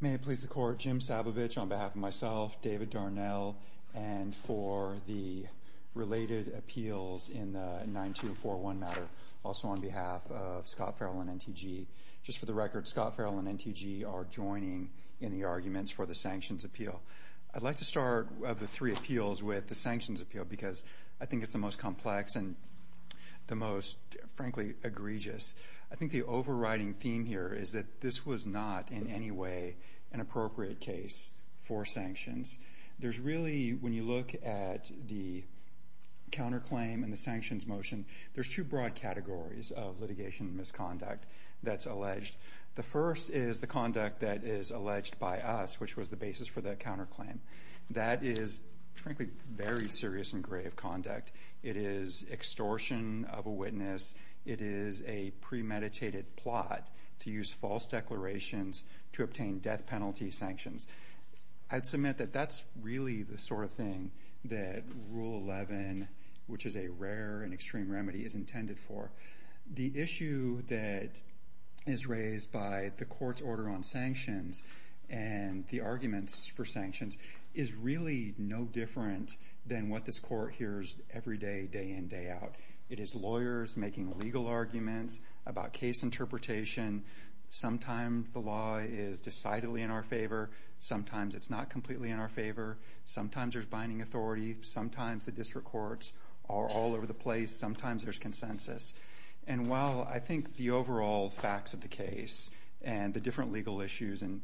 May it please the Court, Jim Sabovich on behalf of myself, David Darnell, and for the related appeals in the 9241 matter, also on behalf of Scott Farrell and NTG. Just for the record, Scott Farrell and NTG are joining in the arguments for the sanctions appeal. I'd like to start the three appeals with the sanctions appeal because I think it's the most complex and the most, frankly, egregious. I think the overriding theme here is that this was not in any way an appropriate case for sanctions. There's really, when you look at the counterclaim and the sanctions motion, there's two broad categories of litigation misconduct that's alleged. The first is the conduct that is alleged by us, which was the basis for that counterclaim. That is, frankly, very serious and grave conduct. It is extortion of a witness. It is a premeditated plot to use false declarations to obtain death penalty sanctions. I'd submit that that's really the sort of thing that Rule 11, which is a rare and extreme remedy, is intended for. The issue that is raised by the court's order on sanctions and the arguments for sanctions is really no different than what this court hears every day, day in, day out. It is lawyers making legal arguments about case interpretation. Sometimes the law is decidedly in our favor. Sometimes it's not completely in our favor. Sometimes there's binding authority. Sometimes the district courts are all over the place. Sometimes there's consensus. And while I think the overall facts of the case and the different legal issues, and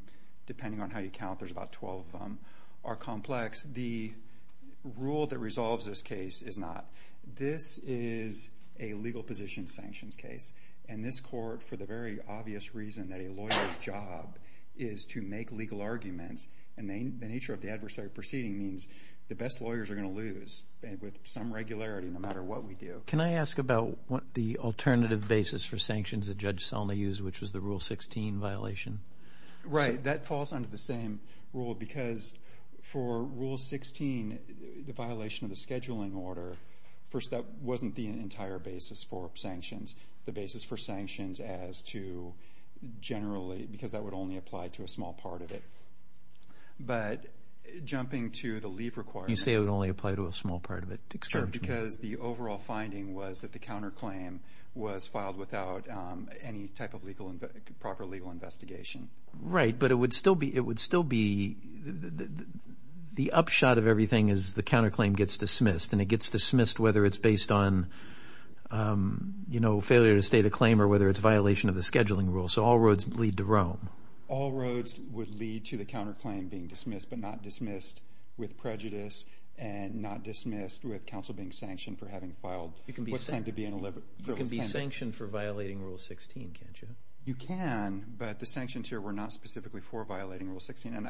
depending on how you count, there's about 12 of them, are complex, the rule that resolves this case is not. This is a legal position sanctions case. And this court, for the very obvious reason that a lawyer's job is to make legal arguments, and the nature of the adversary proceeding means the best lawyers are going to lose with some regularity no matter what we do. Can I ask about the alternative basis for sanctions that Judge Selma used, which was the Rule 16 violation? Right. That falls under the same rule because for Rule 16, the violation of the scheduling order, first, that wasn't the entire basis for sanctions. The basis for sanctions as to generally, because that would only apply to a small part of it. But jumping to the leave requirement. You say it would only apply to a small part of it. Sure, because the overall finding was that the counterclaim was filed without any type of proper legal investigation. Right. But it would still be, the upshot of everything is the counterclaim gets dismissed, and it gets dismissed whether it's based on failure to state a claim or whether it's a violation of the scheduling rule. So all roads lead to Rome. All roads would lead to the counterclaim being dismissed, but not dismissed with prejudice and not dismissed with counsel being sanctioned for having filed. You can be sanctioned for violating Rule 16, can't you? You can, but the sanctions here were not specifically for violating Rule 16.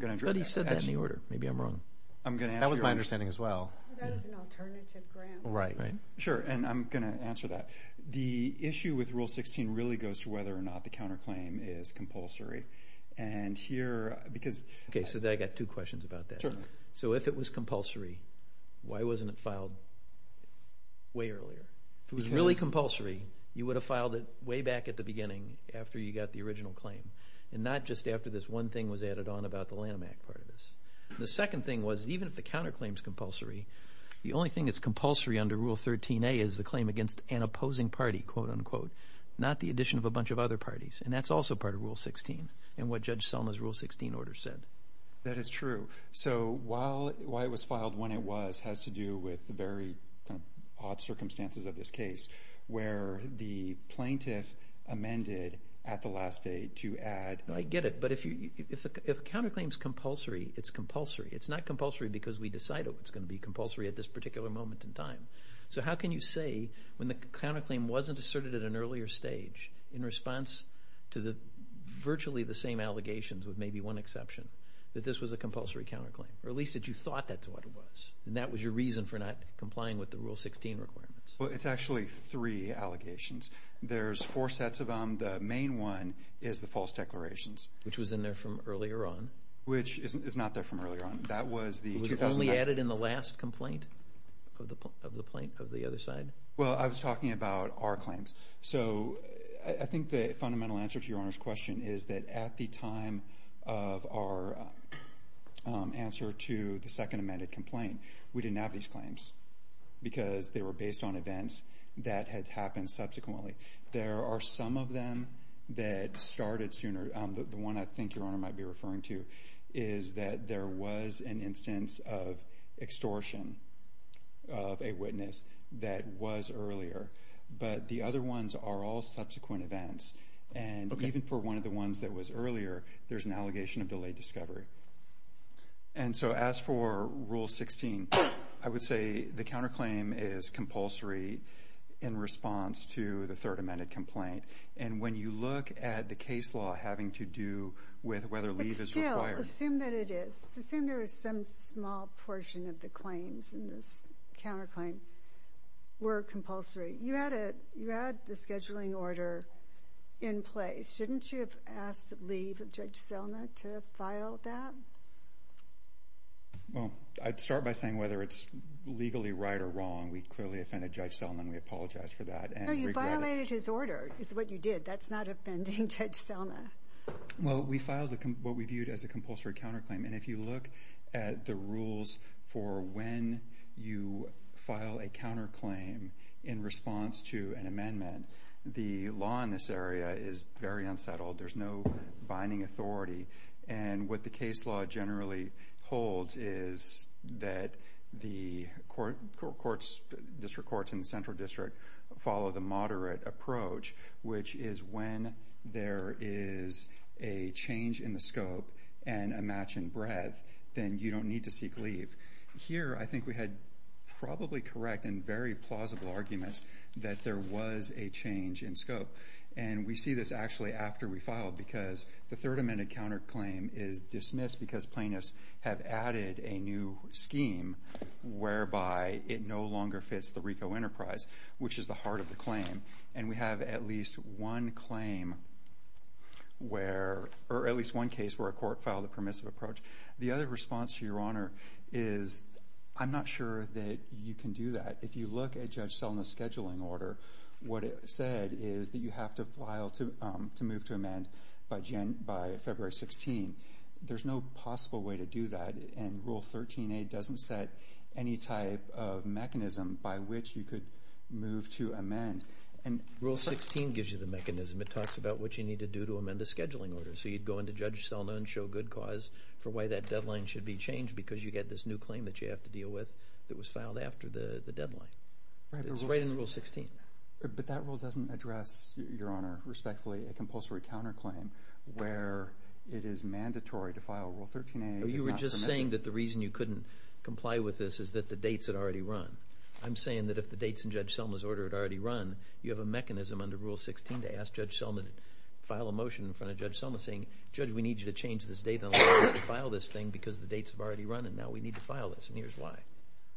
But he said that in the order. Maybe I'm wrong. I'm going to answer your question. That was my understanding as well. That was an alternative grant. Right. Sure, and I'm going to answer that. The issue with Rule 16 really goes to whether or not the counterclaim is compulsory. And here, because... Okay, so I got two questions about that. Sure. So if it was compulsory, why wasn't it filed way earlier? If it was really compulsory, you would have filed it way back at the beginning after you got the original claim, and not just after this one thing was added on about the Lanham Act part of this. The second thing was, even if the counterclaim's compulsory, the only thing that's compulsory under Rule 13a is the claim against an opposing party, quote-unquote, not the addition of a bunch of other parties. And that's also part of Rule 16 and what Judge Selma's Rule 16 order said. That is true. So why it was filed when it was has to do with the very odd circumstances of this case where the plaintiff amended at the last day to add... I get it. But if a counterclaim's compulsory, it's compulsory. It's not compulsory because we decided it was going to be compulsory at this particular moment in time. So how can you say, when the counterclaim wasn't asserted at an earlier stage, in response to virtually the same allegations with maybe one exception, that this was a compulsory counterclaim? Or at least that you thought that's what it was, and that was your reason for not complying with the Rule 16 requirements? It's actually three allegations. There's four sets of them. The main one is the false declarations. Which was in there from earlier on. Which is not there from earlier on. That was the... Was it only added in the last complaint of the other side? Well, I was talking about our claims. So I think the fundamental answer to your Honor's question is that at the time of our answer to the second amended complaint, we didn't have these claims. Because they were based on events that had happened subsequently. There are some of them that started sooner, the one I think your Honor might be referring to, is that there was an instance of extortion of a witness that was earlier. But the other ones are all subsequent events. And even for one of the ones that was earlier, there's an allegation of delayed discovery. And so as for Rule 16, I would say the counterclaim is compulsory in response to the third amended complaint. And when you look at the case law having to do with whether leave is required... But still, assume that it is. Assume there is some small portion of the claims in this counterclaim were compulsory. You had the scheduling order in place. Shouldn't you have asked leave of Judge Selma to file that? Well, I'd start by saying whether it's legally right or wrong. We clearly offended Judge Selma and we apologize for that. No, you violated his order. It's what you did. That's not offending Judge Selma. Well, we filed what we viewed as a compulsory counterclaim. And if you look at the rules for when you file a counterclaim in response to an amendment, the law in this area is very unsettled. There's no binding authority. And what the case law generally holds is that the courts, district courts in the central district, follow the moderate approach, which is when there is a change in the scope and a match in breadth, then you don't need to seek leave. Here, I think we had probably correct and very plausible arguments that there was a change in scope. And we see this actually after we filed because the third amended counterclaim is dismissed because plaintiffs have added a new scheme whereby it no longer fits the RICO enterprise, which is the heart of the claim. And we have at least one case where a court filed a permissive approach. The other response, Your Honor, is I'm not sure that you can do that. If you look at Judge Selma's scheduling order, what it said is that you have to file to move to amend by February 16. There's no possible way to do that. And Rule 13A doesn't set any type of mechanism by which you could move to amend. And Rule 16 gives you the mechanism. It talks about what you need to do to amend the scheduling order. So you'd go into Judge Selma and show good cause for why that deadline should be changed because you get this new claim that you have to deal with that was filed after the deadline. It's right in Rule 16. But that rule doesn't address, Your Honor, respectfully, a compulsory counterclaim where it is mandatory to file a Rule 13A. You were just saying that the reason you couldn't comply with this is that the dates had already run. I'm saying that if the dates in Judge Selma's order had already run, you have a mechanism under Rule 16 to ask Judge Selma to file a motion in front of Judge Selma saying, Judge, we need you to change this date and allow us to file this thing because the dates have already run. And now we need to file this. And here's why.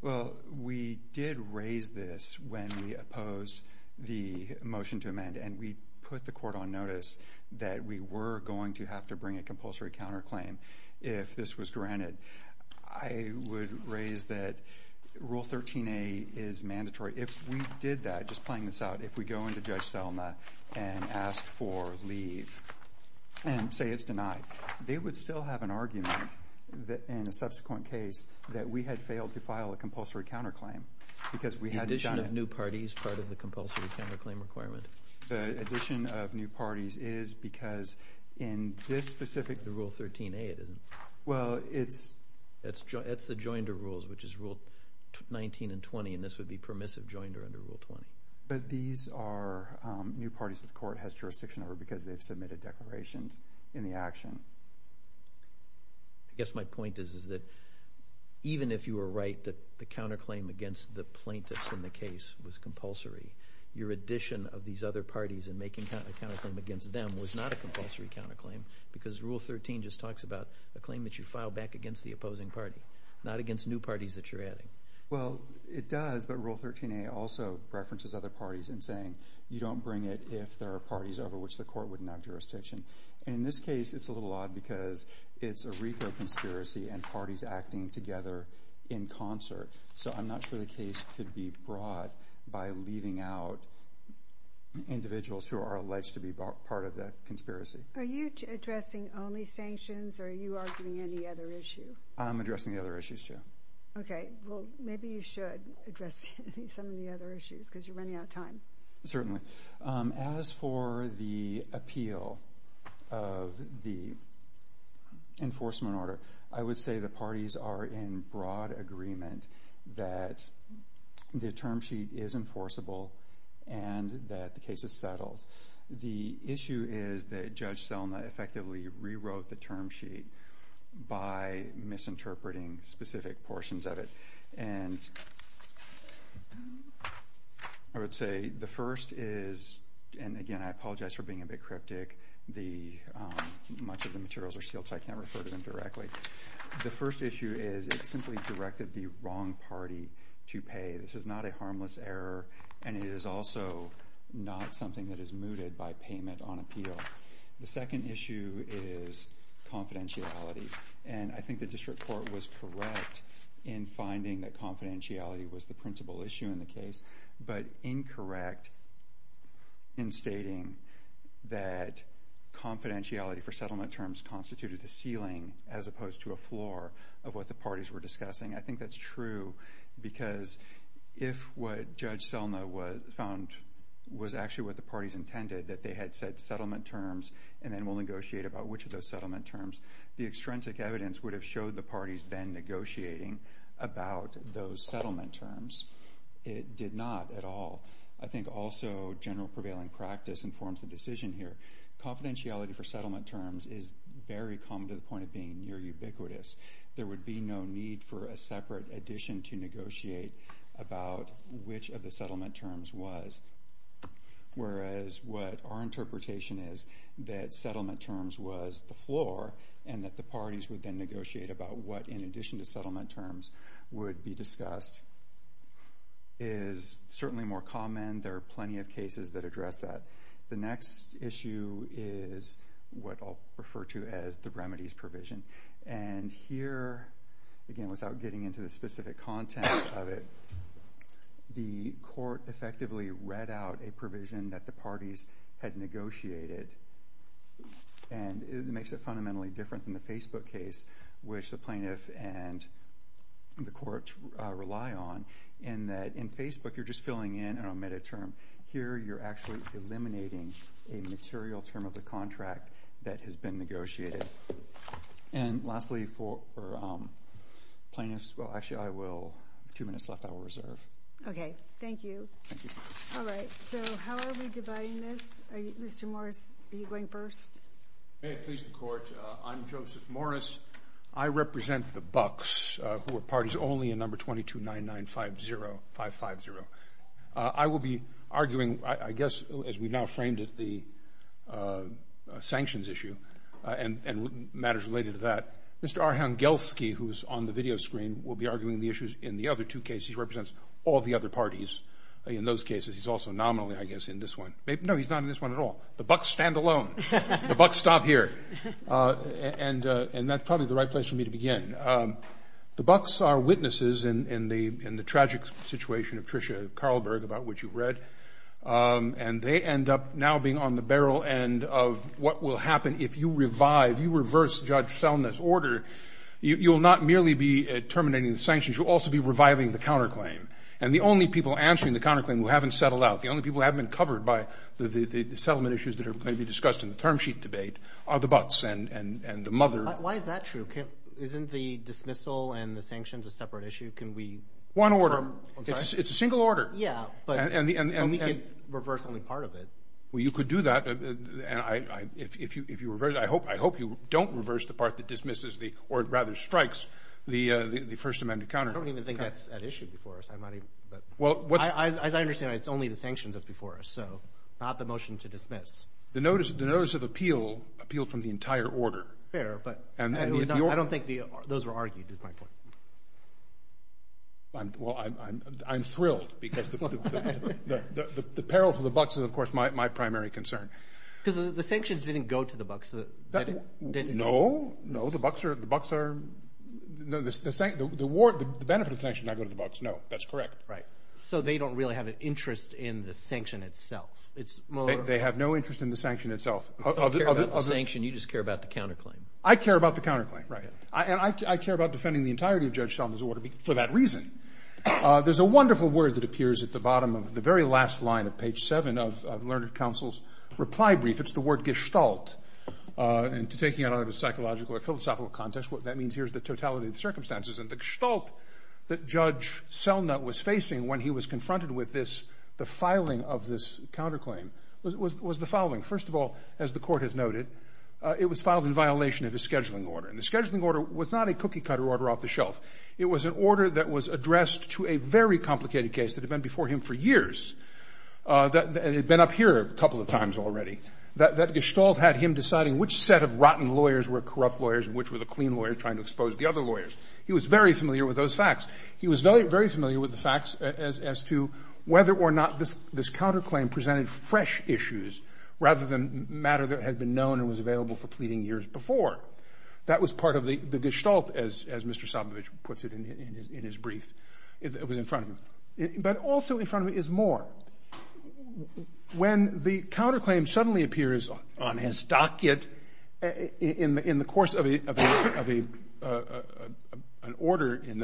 Well, we did raise this when we opposed the motion to amend. And we put the court on notice that we were going to have to bring a compulsory counterclaim if this was granted. I would raise that Rule 13A is mandatory. If we did that, just playing this out, if we go into Judge Selma and ask for leave and say it's denied, they would still have an argument in a subsequent case that we had failed to file a compulsory counterclaim because we hadn't done it. The addition of new parties is part of the compulsory counterclaim requirement. The addition of new parties is because in this specific. The Rule 13A, it isn't. Well, it's. It's the Joinder Rules, which is Rule 19 and 20. And this would be permissive joinder under Rule 20. But these are new parties that the court has jurisdiction over because they've submitted declarations in the action. I guess my point is that even if you were right that the counterclaim against the plaintiffs in the case was compulsory, your addition of these other parties and making a counterclaim against them was not a compulsory counterclaim because Rule 13 just talks about a claim that you file back against the opposing party, not against new parties that you're adding. Well, it does. But Rule 13A also references other parties in saying you don't bring it if there are parties over which the court would not jurisdiction. And in this case, it's a little odd because it's a RICO conspiracy and parties acting together in concert. So I'm not sure the case could be brought by leaving out individuals who are alleged to be part of that conspiracy. Are you addressing only sanctions or are you arguing any other issue? I'm addressing the other issues, too. Okay. Well, maybe you should address some of the other issues because you're running out of time. Certainly. As for the appeal of the enforcement order, I would say the parties are in broad agreement that the term sheet is enforceable and that the case is settled. The issue is that Judge Selma effectively rewrote the term sheet by misinterpreting specific portions of it. And I would say the first is, and again, I apologize for being a bit cryptic, much of the materials are sealed so I can't refer to them directly. The first issue is it simply directed the wrong party to pay. This is not a harmless error and it is also not something that is mooted by payment on appeal. The second issue is confidentiality. And I think the district court was correct in finding that confidentiality was the principal issue in the case, but incorrect in stating that confidentiality for settlement terms constituted a ceiling as opposed to a floor of what the parties were discussing. I think that's true because if what Judge Selma found was actually what the parties intended, that they had said settlement terms and then will negotiate about which of those settlement terms, the extrinsic evidence would have showed the parties then negotiating about those settlement terms. It did not at all. I think also general prevailing practice informs the decision here. Confidentiality for settlement terms is very common to the point of being near ubiquitous. There would be no need for a separate addition to negotiate about which of the settlement terms was. Whereas what our interpretation is that settlement terms was the floor and that the parties would then negotiate about what in addition to settlement terms would be discussed is certainly more common. There are plenty of cases that address that. The next issue is what I'll refer to as the remedies provision. And here, again, without getting into the specific content of it, the court effectively read out a provision that the parties had negotiated. And it makes it fundamentally different than the Facebook case, which the plaintiff and the court rely on, in that in Facebook, you're just filling in an omitted term. Here, you're actually eliminating a material term of the contract that has been negotiated. And lastly, for plaintiffs, well, actually, I will, two minutes left, I will reserve. Okay, thank you. Thank you. All right, so how are we dividing this? Mr. Morris, are you going first? May it please the court, I'm Joseph Morris. I represent the Bucks, who are parties only in number 229950, 550. I will be arguing, I guess, as we've now framed it, the sanctions issue. And matters related to that. Mr. Arhangelsky, who's on the video screen, will be arguing the issues in the other two cases. He represents all the other parties in those cases. He's also nominally, I guess, in this one. No, he's not in this one at all. The Bucks stand alone. The Bucks stop here. And that's probably the right place for me to begin. The Bucks are witnesses in the tragic situation of Tricia Carlberg, about which you've read. And they end up now being on the barrel end of what will happen if you revive, you reverse Judge Selness' order. You'll not merely be terminating the sanctions, you'll also be reviving the counterclaim. And the only people answering the counterclaim who haven't settled out, the only people who haven't been covered by the settlement issues that are going to be discussed in the term sheet debate, are the Bucks and the mother. Why is that true? Isn't the dismissal and the sanctions a separate issue? Can we... One order. I'm sorry. It's a single order. Yeah. But we could reverse only part of it. Well, you could do that. And if you reverse it, I hope you don't reverse the part that dismisses the, or rather strikes, the First Amendment counterclaim. I don't even think that's an issue before us. Well, what's... As I understand it, it's only the sanctions that's before us, so not the motion to dismiss. The notice of appeal appealed from the entire order. Fair, but I don't think those were argued, is my point. Well, I'm thrilled because the peril for the Bucks is, of course, my primary concern. Because the sanctions didn't go to the Bucks. No, no. The Bucks are... The benefit of the sanctions did not go to the Bucks. No, that's correct. Right. So they don't really have an interest in the sanction itself. They have no interest in the sanction itself. You don't care about the sanction, you just care about the counterclaim. I care about the counterclaim, right. And I care about defending the entirety of Judge Selnut's order for that reason. There's a wonderful word that appears at the bottom of the very last line of page seven of Lerner Counsel's reply brief. It's the word gestalt. And to take it out of a psychological or philosophical context, what that means here is the totality of circumstances. And the gestalt that Judge Selnut was facing when he was confronted with this, the filing of this counterclaim, was the following. First of all, as the court has noted, it was filed in violation of his scheduling order. And the scheduling order was not a cookie-cutter order off the shelf. It was an order that was addressed to a very complicated case that had been before him for years, that had been up here a couple of times already, that gestalt had him deciding which set of rotten lawyers were corrupt lawyers and which were the clean lawyers trying to expose the other lawyers. He was very familiar with those facts. He was very familiar with the facts as to whether or not this counterclaim presented fresh issues rather than matter that had been known and was available for pleading years before. That was part of the gestalt, as Mr. Sobovich puts it in his brief. It was in front of him. But also in front of him is more. When the counterclaim suddenly appears on his docket in the course of an order, in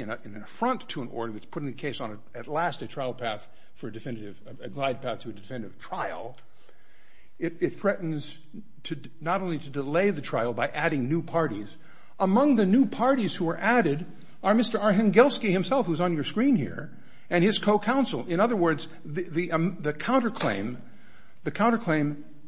an affront to an order that's putting the case on, at last, a trial path for a definitive, a glide path to a definitive trial, it threatens not only to delay the trial by adding new parties. Among the new parties who are added are Mr. Arhengelsky himself, who's on your screen here, and his co-counsel. In other words, the counterclaim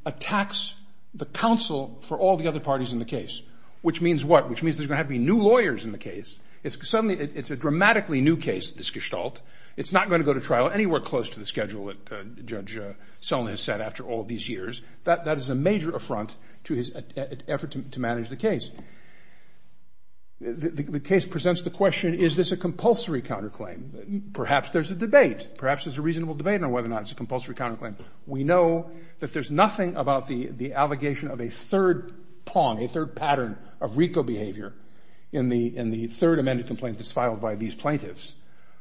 attacks the counsel for all the other parties in the case, which means what? Which means there's going to have to be new lawyers in the case. It's a dramatically new case, this gestalt. It's not going to go to trial anywhere close to the schedule that Judge Sone has set after all these years. That is a major affront to his effort to manage the case. The case presents the question, is this a compulsory counterclaim? Perhaps there's a debate. Perhaps there's a reasonable debate on whether or not it's a compulsory counterclaim. We know that there's nothing about the allegation of a third pawn, a third pattern of RICO behavior in the third amended complaint that's filed by these plaintiffs,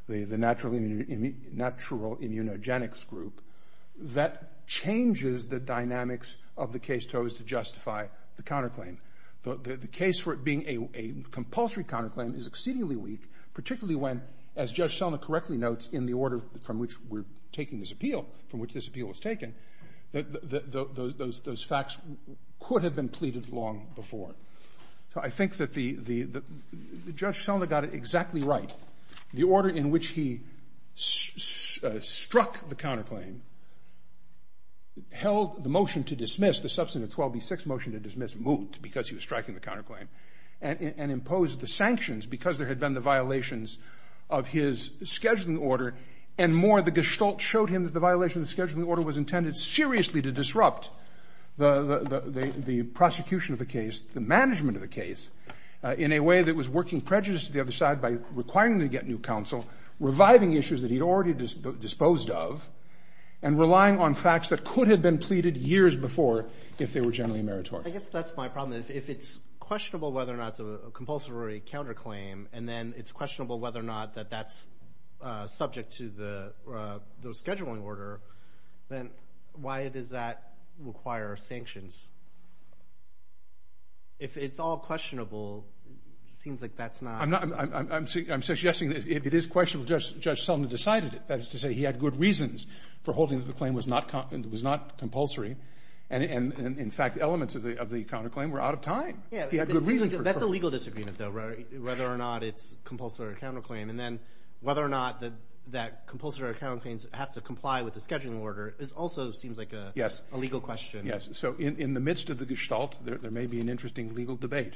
the natural immunogenics group, that changes the dynamics of the case toast to justify the counterclaim. The case for it being a compulsory counterclaim is exceedingly weak, particularly when, as Judge Selma correctly notes, in the order from which we're taking this appeal, from which this appeal was taken, those facts could have been pleaded long before. So I think that Judge Selma got it exactly right. The order in which he struck the counterclaim held the motion to dismiss, the Substantive 12b6 motion to dismiss, moot because he was striking the counterclaim, and imposed the sanctions because there had been the violations of his scheduling order, and more, the gestalt showed him that the violation of the scheduling order was intended seriously to disrupt the prosecution of a case, the management of a case in a way that was working prejudice to the other side by requiring them to get new counsel, reviving issues that he'd already disposed of, and relying on facts that could have been pleaded years before if they were generally meritorious. I guess that's my problem. If it's questionable whether or not it's a compulsory counterclaim, and then it's questionable whether or not that that's subject to the scheduling order, then why does that require sanctions? If it's all questionable, it seems like that's not... I'm suggesting that if it is questionable, Judge Sullivan decided it. That is to say, he had good reasons for holding that the claim was not compulsory, and in fact, elements of the counterclaim were out of time. He had good reasons for... That's a legal disagreement, though, whether or not it's compulsory or counterclaim, and then whether or not that compulsory or counterclaims have to comply with the scheduling order also seems like a legal question. Yes, so in the midst of the gestalt, there may be an interesting legal debate,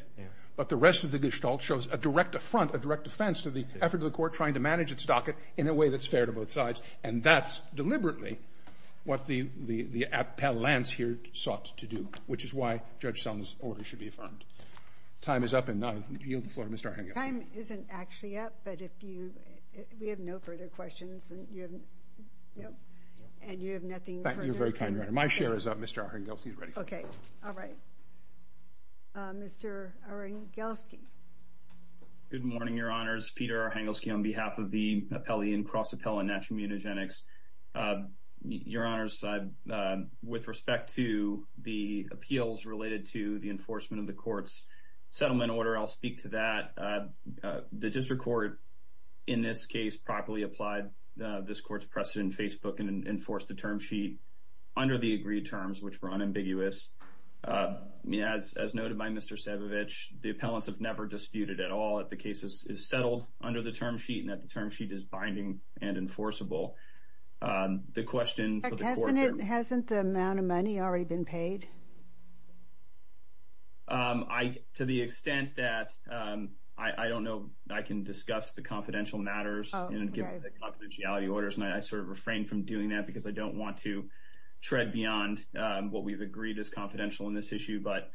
but the rest of the gestalt shows a direct affront, a direct defense to the effort of the court trying to manage its docket in a way that's fair to both sides, and that's deliberately what the appellants here sought to do, which is why Judge Sullivan's order should be affirmed. Time is up, and I yield the floor to Mr. Arhengel. Time isn't actually up, but if you... We have no further questions, and you have nothing further... Thank you. You're very kind, Your Honor. My chair is up. Mr. Arhengel, he's ready. Okay. All right. Mr. Arhengelsky. Good morning, Your Honors. Peter Arhengelsky on behalf of the appellee in cross-appellant natural immunogenics. Your Honors, with respect to the appeals related to the enforcement of the court's settlement order, I'll speak to that. The district court, in this case, properly applied this court's precedent in Facebook and enforced the term sheet under the agreed terms, which were unambiguous. As noted by Mr. Sebovich, the appellants have never disputed at all that the case is settled under the term sheet and that the term sheet is binding and enforceable. The question for the court... In fact, hasn't the amount of money already been paid? To the extent that I don't know... I can discuss the confidential matters and give confidentiality orders, and I sort of refrain from doing that because I don't want to tread beyond what we've agreed is confidential in this issue. But,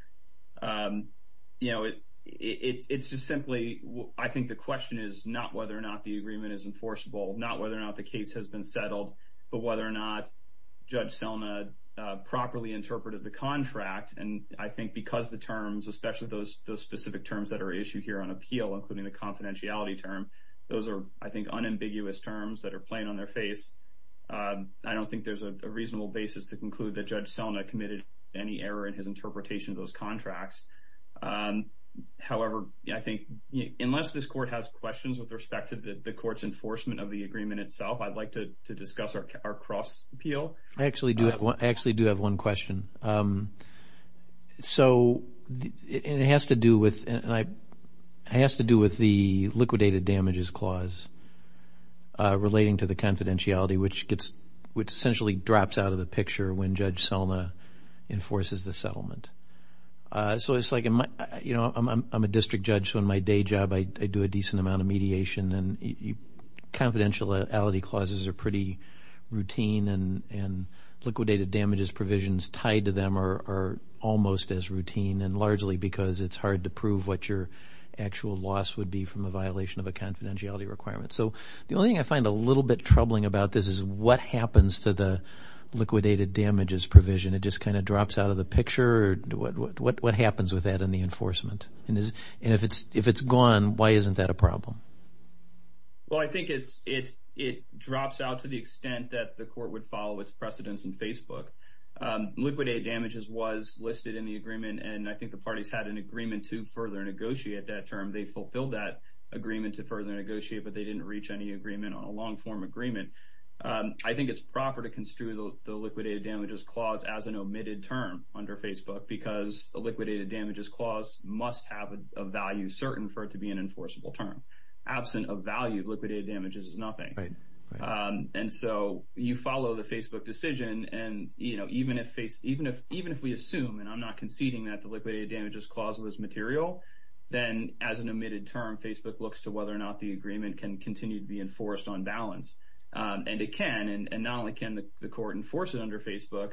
you know, it's just simply... I think the question is not whether or not the agreement is enforceable, not whether or not the case has been settled, but whether or not Judge Selma properly interpreted the contract. And I think because the terms, especially those specific terms that are issued here on appeal, including the confidentiality term, those are, I think, unambiguous terms that are plain on their face. I don't think there's a reasonable basis to conclude that Judge Selma committed any error in his interpretation of those contracts. However, I think unless this court has questions with respect to the court's enforcement of the agreement itself, I'd like to discuss our cross-appeal. I actually do have one question. So, it has to do with the liquidated damages clause relating to the confidentiality, which essentially drops out of the picture when Judge Selma enforces the settlement. So, it's like, you know, I'm a district judge, so in my day job I do a decent amount of mediation, and confidentiality clauses are pretty routine and liquidated damages provisions tied to them are almost as routine, and largely because it's hard to prove what your actual loss would be from a violation of a confidentiality requirement. So, the only thing I find a little bit troubling about this is what happens to the liquidated damages provision. It just kind of drops out of the picture? What happens with that in the enforcement? And if it's gone, why isn't that a problem? Well, I think it drops out to the extent that the court would follow its precedents in Facebook. Liquidated damages was listed in the agreement, and I think the parties had an agreement to further negotiate that term. They fulfilled that agreement to further negotiate, but they didn't reach any agreement on a long-form agreement. I think it's proper to construe the liquidated damages clause as an omitted term under Facebook, because a liquidated damages clause must have a value certain for it to be an enforceable term. Absent a value, liquidated damages is nothing. And so, you follow the Facebook decision, and, you know, even if we assume, and I'm not conceding that the liquidated damages clause was material, then as an omitted term, Facebook looks to whether or not the agreement can continue to be enforced on balance. And it can, and not only can the court enforce it under Facebook,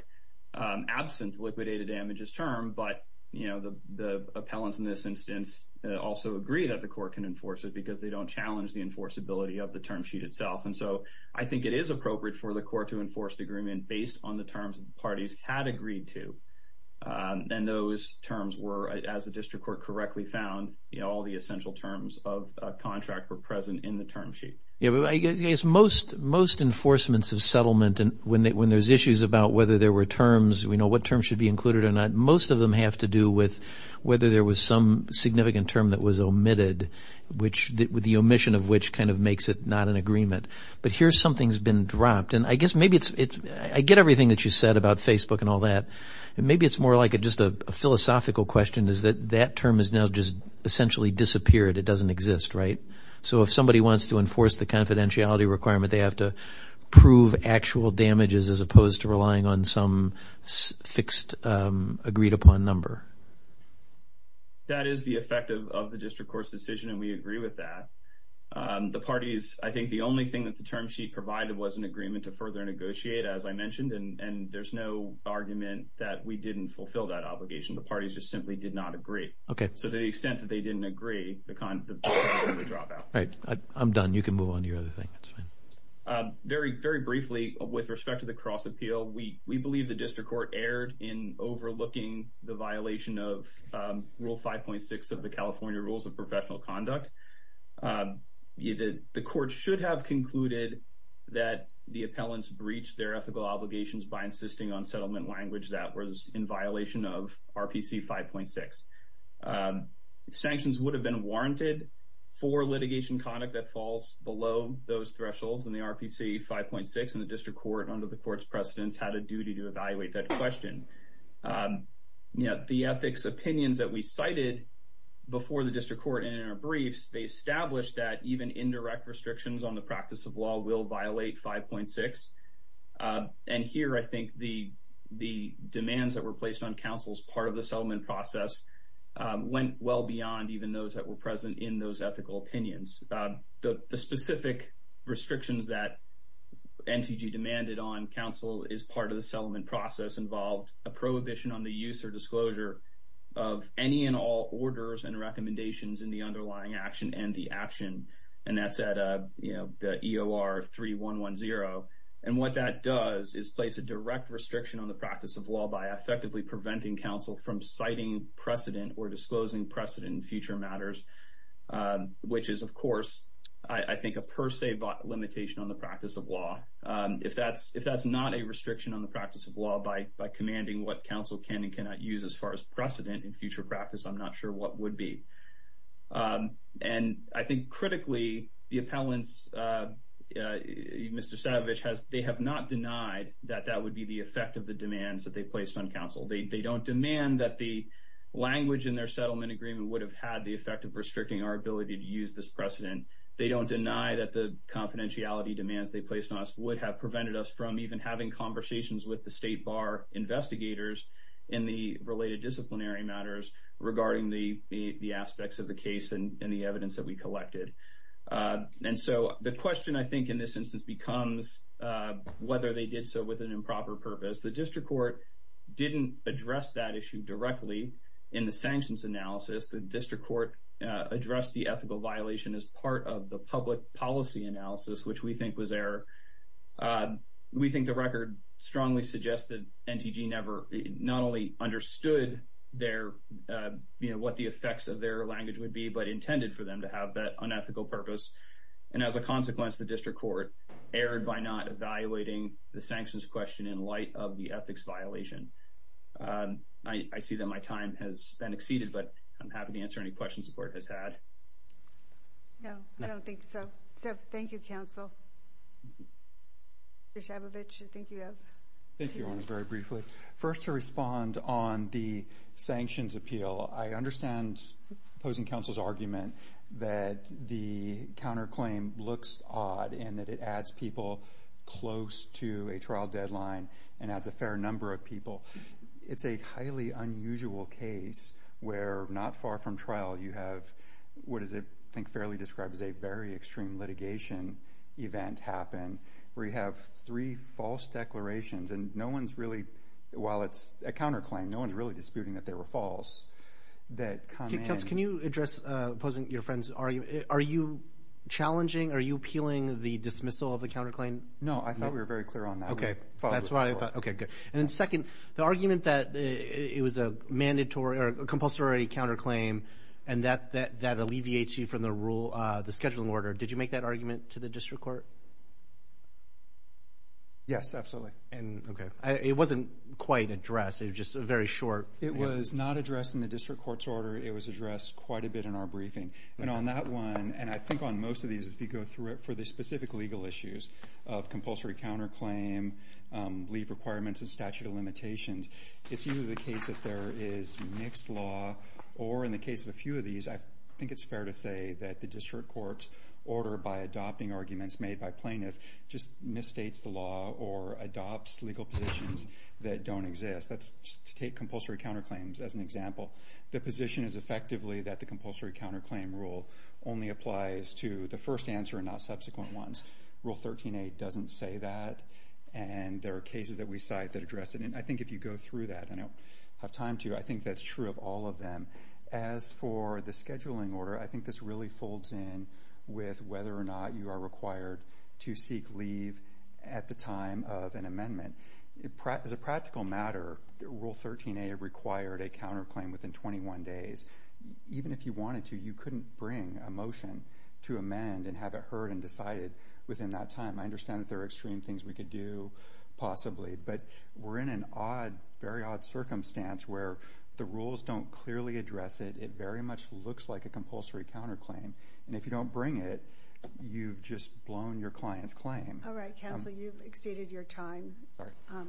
absent liquidated damages term, but, you know, the appellants in this instance also agree that the court can enforce it because they don't challenge the enforceability of the term sheet itself. And so, I think it is appropriate for the court to enforce the agreement based on the terms that the parties had agreed to. And those terms were, as the district court correctly found, you know, all the essential terms of contract were present in the term sheet. Yeah, but I guess most enforcements of settlement when there's issues about whether there were terms, you know, what terms should be included or not, most of them have to do with whether there was some significant term that was omitted, which the omission of which kind of makes it not an agreement. But here something's been dropped, and I guess maybe it's, I get everything that you said about Facebook and all that, and maybe it's more like just a philosophical question is that that term has now just essentially disappeared. It doesn't exist, right? So if somebody wants to enforce the confidentiality requirement, they have to prove actual damages as opposed to relying on some fixed agreed-upon number. That is the effect of the district court's decision, and we agree with that. The parties, I think the only thing that the term sheet provided was an agreement to further negotiate, as I mentioned, and there's no argument that we didn't fulfill that obligation. The parties just simply did not agree. So to the extent that they didn't agree, the term would drop out. All right, I'm done. You can move on to your other thing. Very briefly, with respect to the cross-appeal, we believe the district court erred in overlooking the violation of Rule 5.6 of the California Rules of Professional Conduct. The court should have concluded that the appellants breached their ethical obligations by insisting on settlement language that was in violation of RPC 5.6. Sanctions would have been warranted for litigation conduct that falls below those thresholds in the RPC 5.6, and the district court, under the court's precedence, had a duty to evaluate that question. The ethics opinions that we cited before the district court in our briefs, they established that even indirect restrictions on the practice of law will violate 5.6, and here I think the demands that were placed on counsel as part of the settlement process went well beyond even those that were present in those ethical opinions. The specific restrictions that NTG demanded on counsel as part of the settlement process involved a prohibition on the use or disclosure of any and all orders and recommendations in the underlying action and the action, and that's at the EOR 3110, and what that does is place a direct restriction on the practice of law by effectively preventing counsel from citing precedent or disclosing precedent in future matters, which is, of course, I think a per se limitation on the practice of law. If that's not a restriction on the practice of law by commanding what counsel can and cannot use as far as precedent in future practice, I'm not sure what would be. And I think critically, the appellants Mr. Savage has, they have not denied that that would be the effect of the demands that they placed on counsel. They don't demand that the language in their settlement agreement would have had the effect of restricting our ability to use this precedent. They don't deny that the confidentiality demands they placed on us would have prevented us from even having conversations with the State Bar investigators in the related disciplinary matters regarding the aspects of the case and the evidence that we collected. And so, the question, I think, in this instance becomes whether they did so with an improper purpose. The District Court didn't address that issue directly in the sanctions analysis. The District Court addressed the ethical violation as part of the public policy analysis, which we think was error. We think the record strongly suggests that NTG never, not only understood what the effects of their language would be, but intended for them to have that unethical purpose. And as a consequence, the District Court erred by not evaluating the sanctions question in light of the ethics violation. I see that my time has been exceeded, but I'm happy to answer any questions the Court has had. No, I don't think so. So, thank you, counsel. Mr. Savage, I think you have two minutes. First, to respond on the sanctions appeal, I understand opposing counsel's argument that the counterclaim looks odd and that it adds people close to a trial deadline and adds a fair number of people. It's a highly unusual case where, not far from trial, you have what is, I think, fairly described as a very extreme litigation event happen where you have three false declarations and no one's really while it's a counterclaim, no one's really disputing that they were false. Can you address opposing your friend's argument? Are you challenging, are you appealing the dismissal of the counterclaim? No, I thought we were very clear on that. And second, the argument that it was a mandatory or compulsory counterclaim and that alleviates you from the rule, the scheduling order, did you make that argument to the District Court? Yes, absolutely. It wasn't quite addressed. It was just a very short... It was not addressed in the District Court's order. It was addressed quite a bit in our briefing. And on that one, and I think on most of these, if you go through it for the specific legal issues of compulsory counterclaim, leave requirements and statute of limitations, it's usually the case that there is mixed law or, in the case of a few of these, I think it's fair to say that the District Court's order by adopting arguments made by plaintiff just misstates the law or adopts legal positions that don't exist. Let's take compulsory counterclaims as an example. The position is effectively that the compulsory counterclaim rule only applies to the first answer and not subsequent ones. Rule 13.8 doesn't say that. And there are cases that we cite that address it. And I think if you go through that, and I don't have time to, I think that's true of all of them. As for the scheduling order, I think this really folds in with whether or not you are required to seek leave at the time of an amendment. As a practical matter, Rule 13.8 required a counterclaim within 21 days. Even if you wanted to, you couldn't bring a motion to amend and have it heard and decided within that time. I understand that there are extreme things we could do, possibly, but we're in an odd, very odd circumstance where the rules don't clearly address it. It very much looks like a compulsory counterclaim. And if you don't bring it, you've just blown your client's claim. All right, counsel, you've exceeded your time.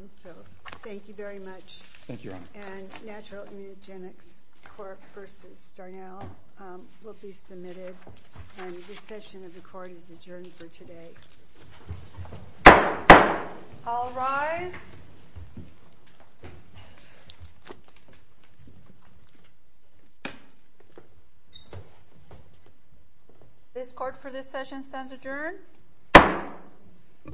So, thank you very much. Thank you, Your Honor. And Natural Immunogenics Court v. Starnow will be submitted, and the session of the Court is adjourned for today. All rise. This Court, for this session, stands adjourned.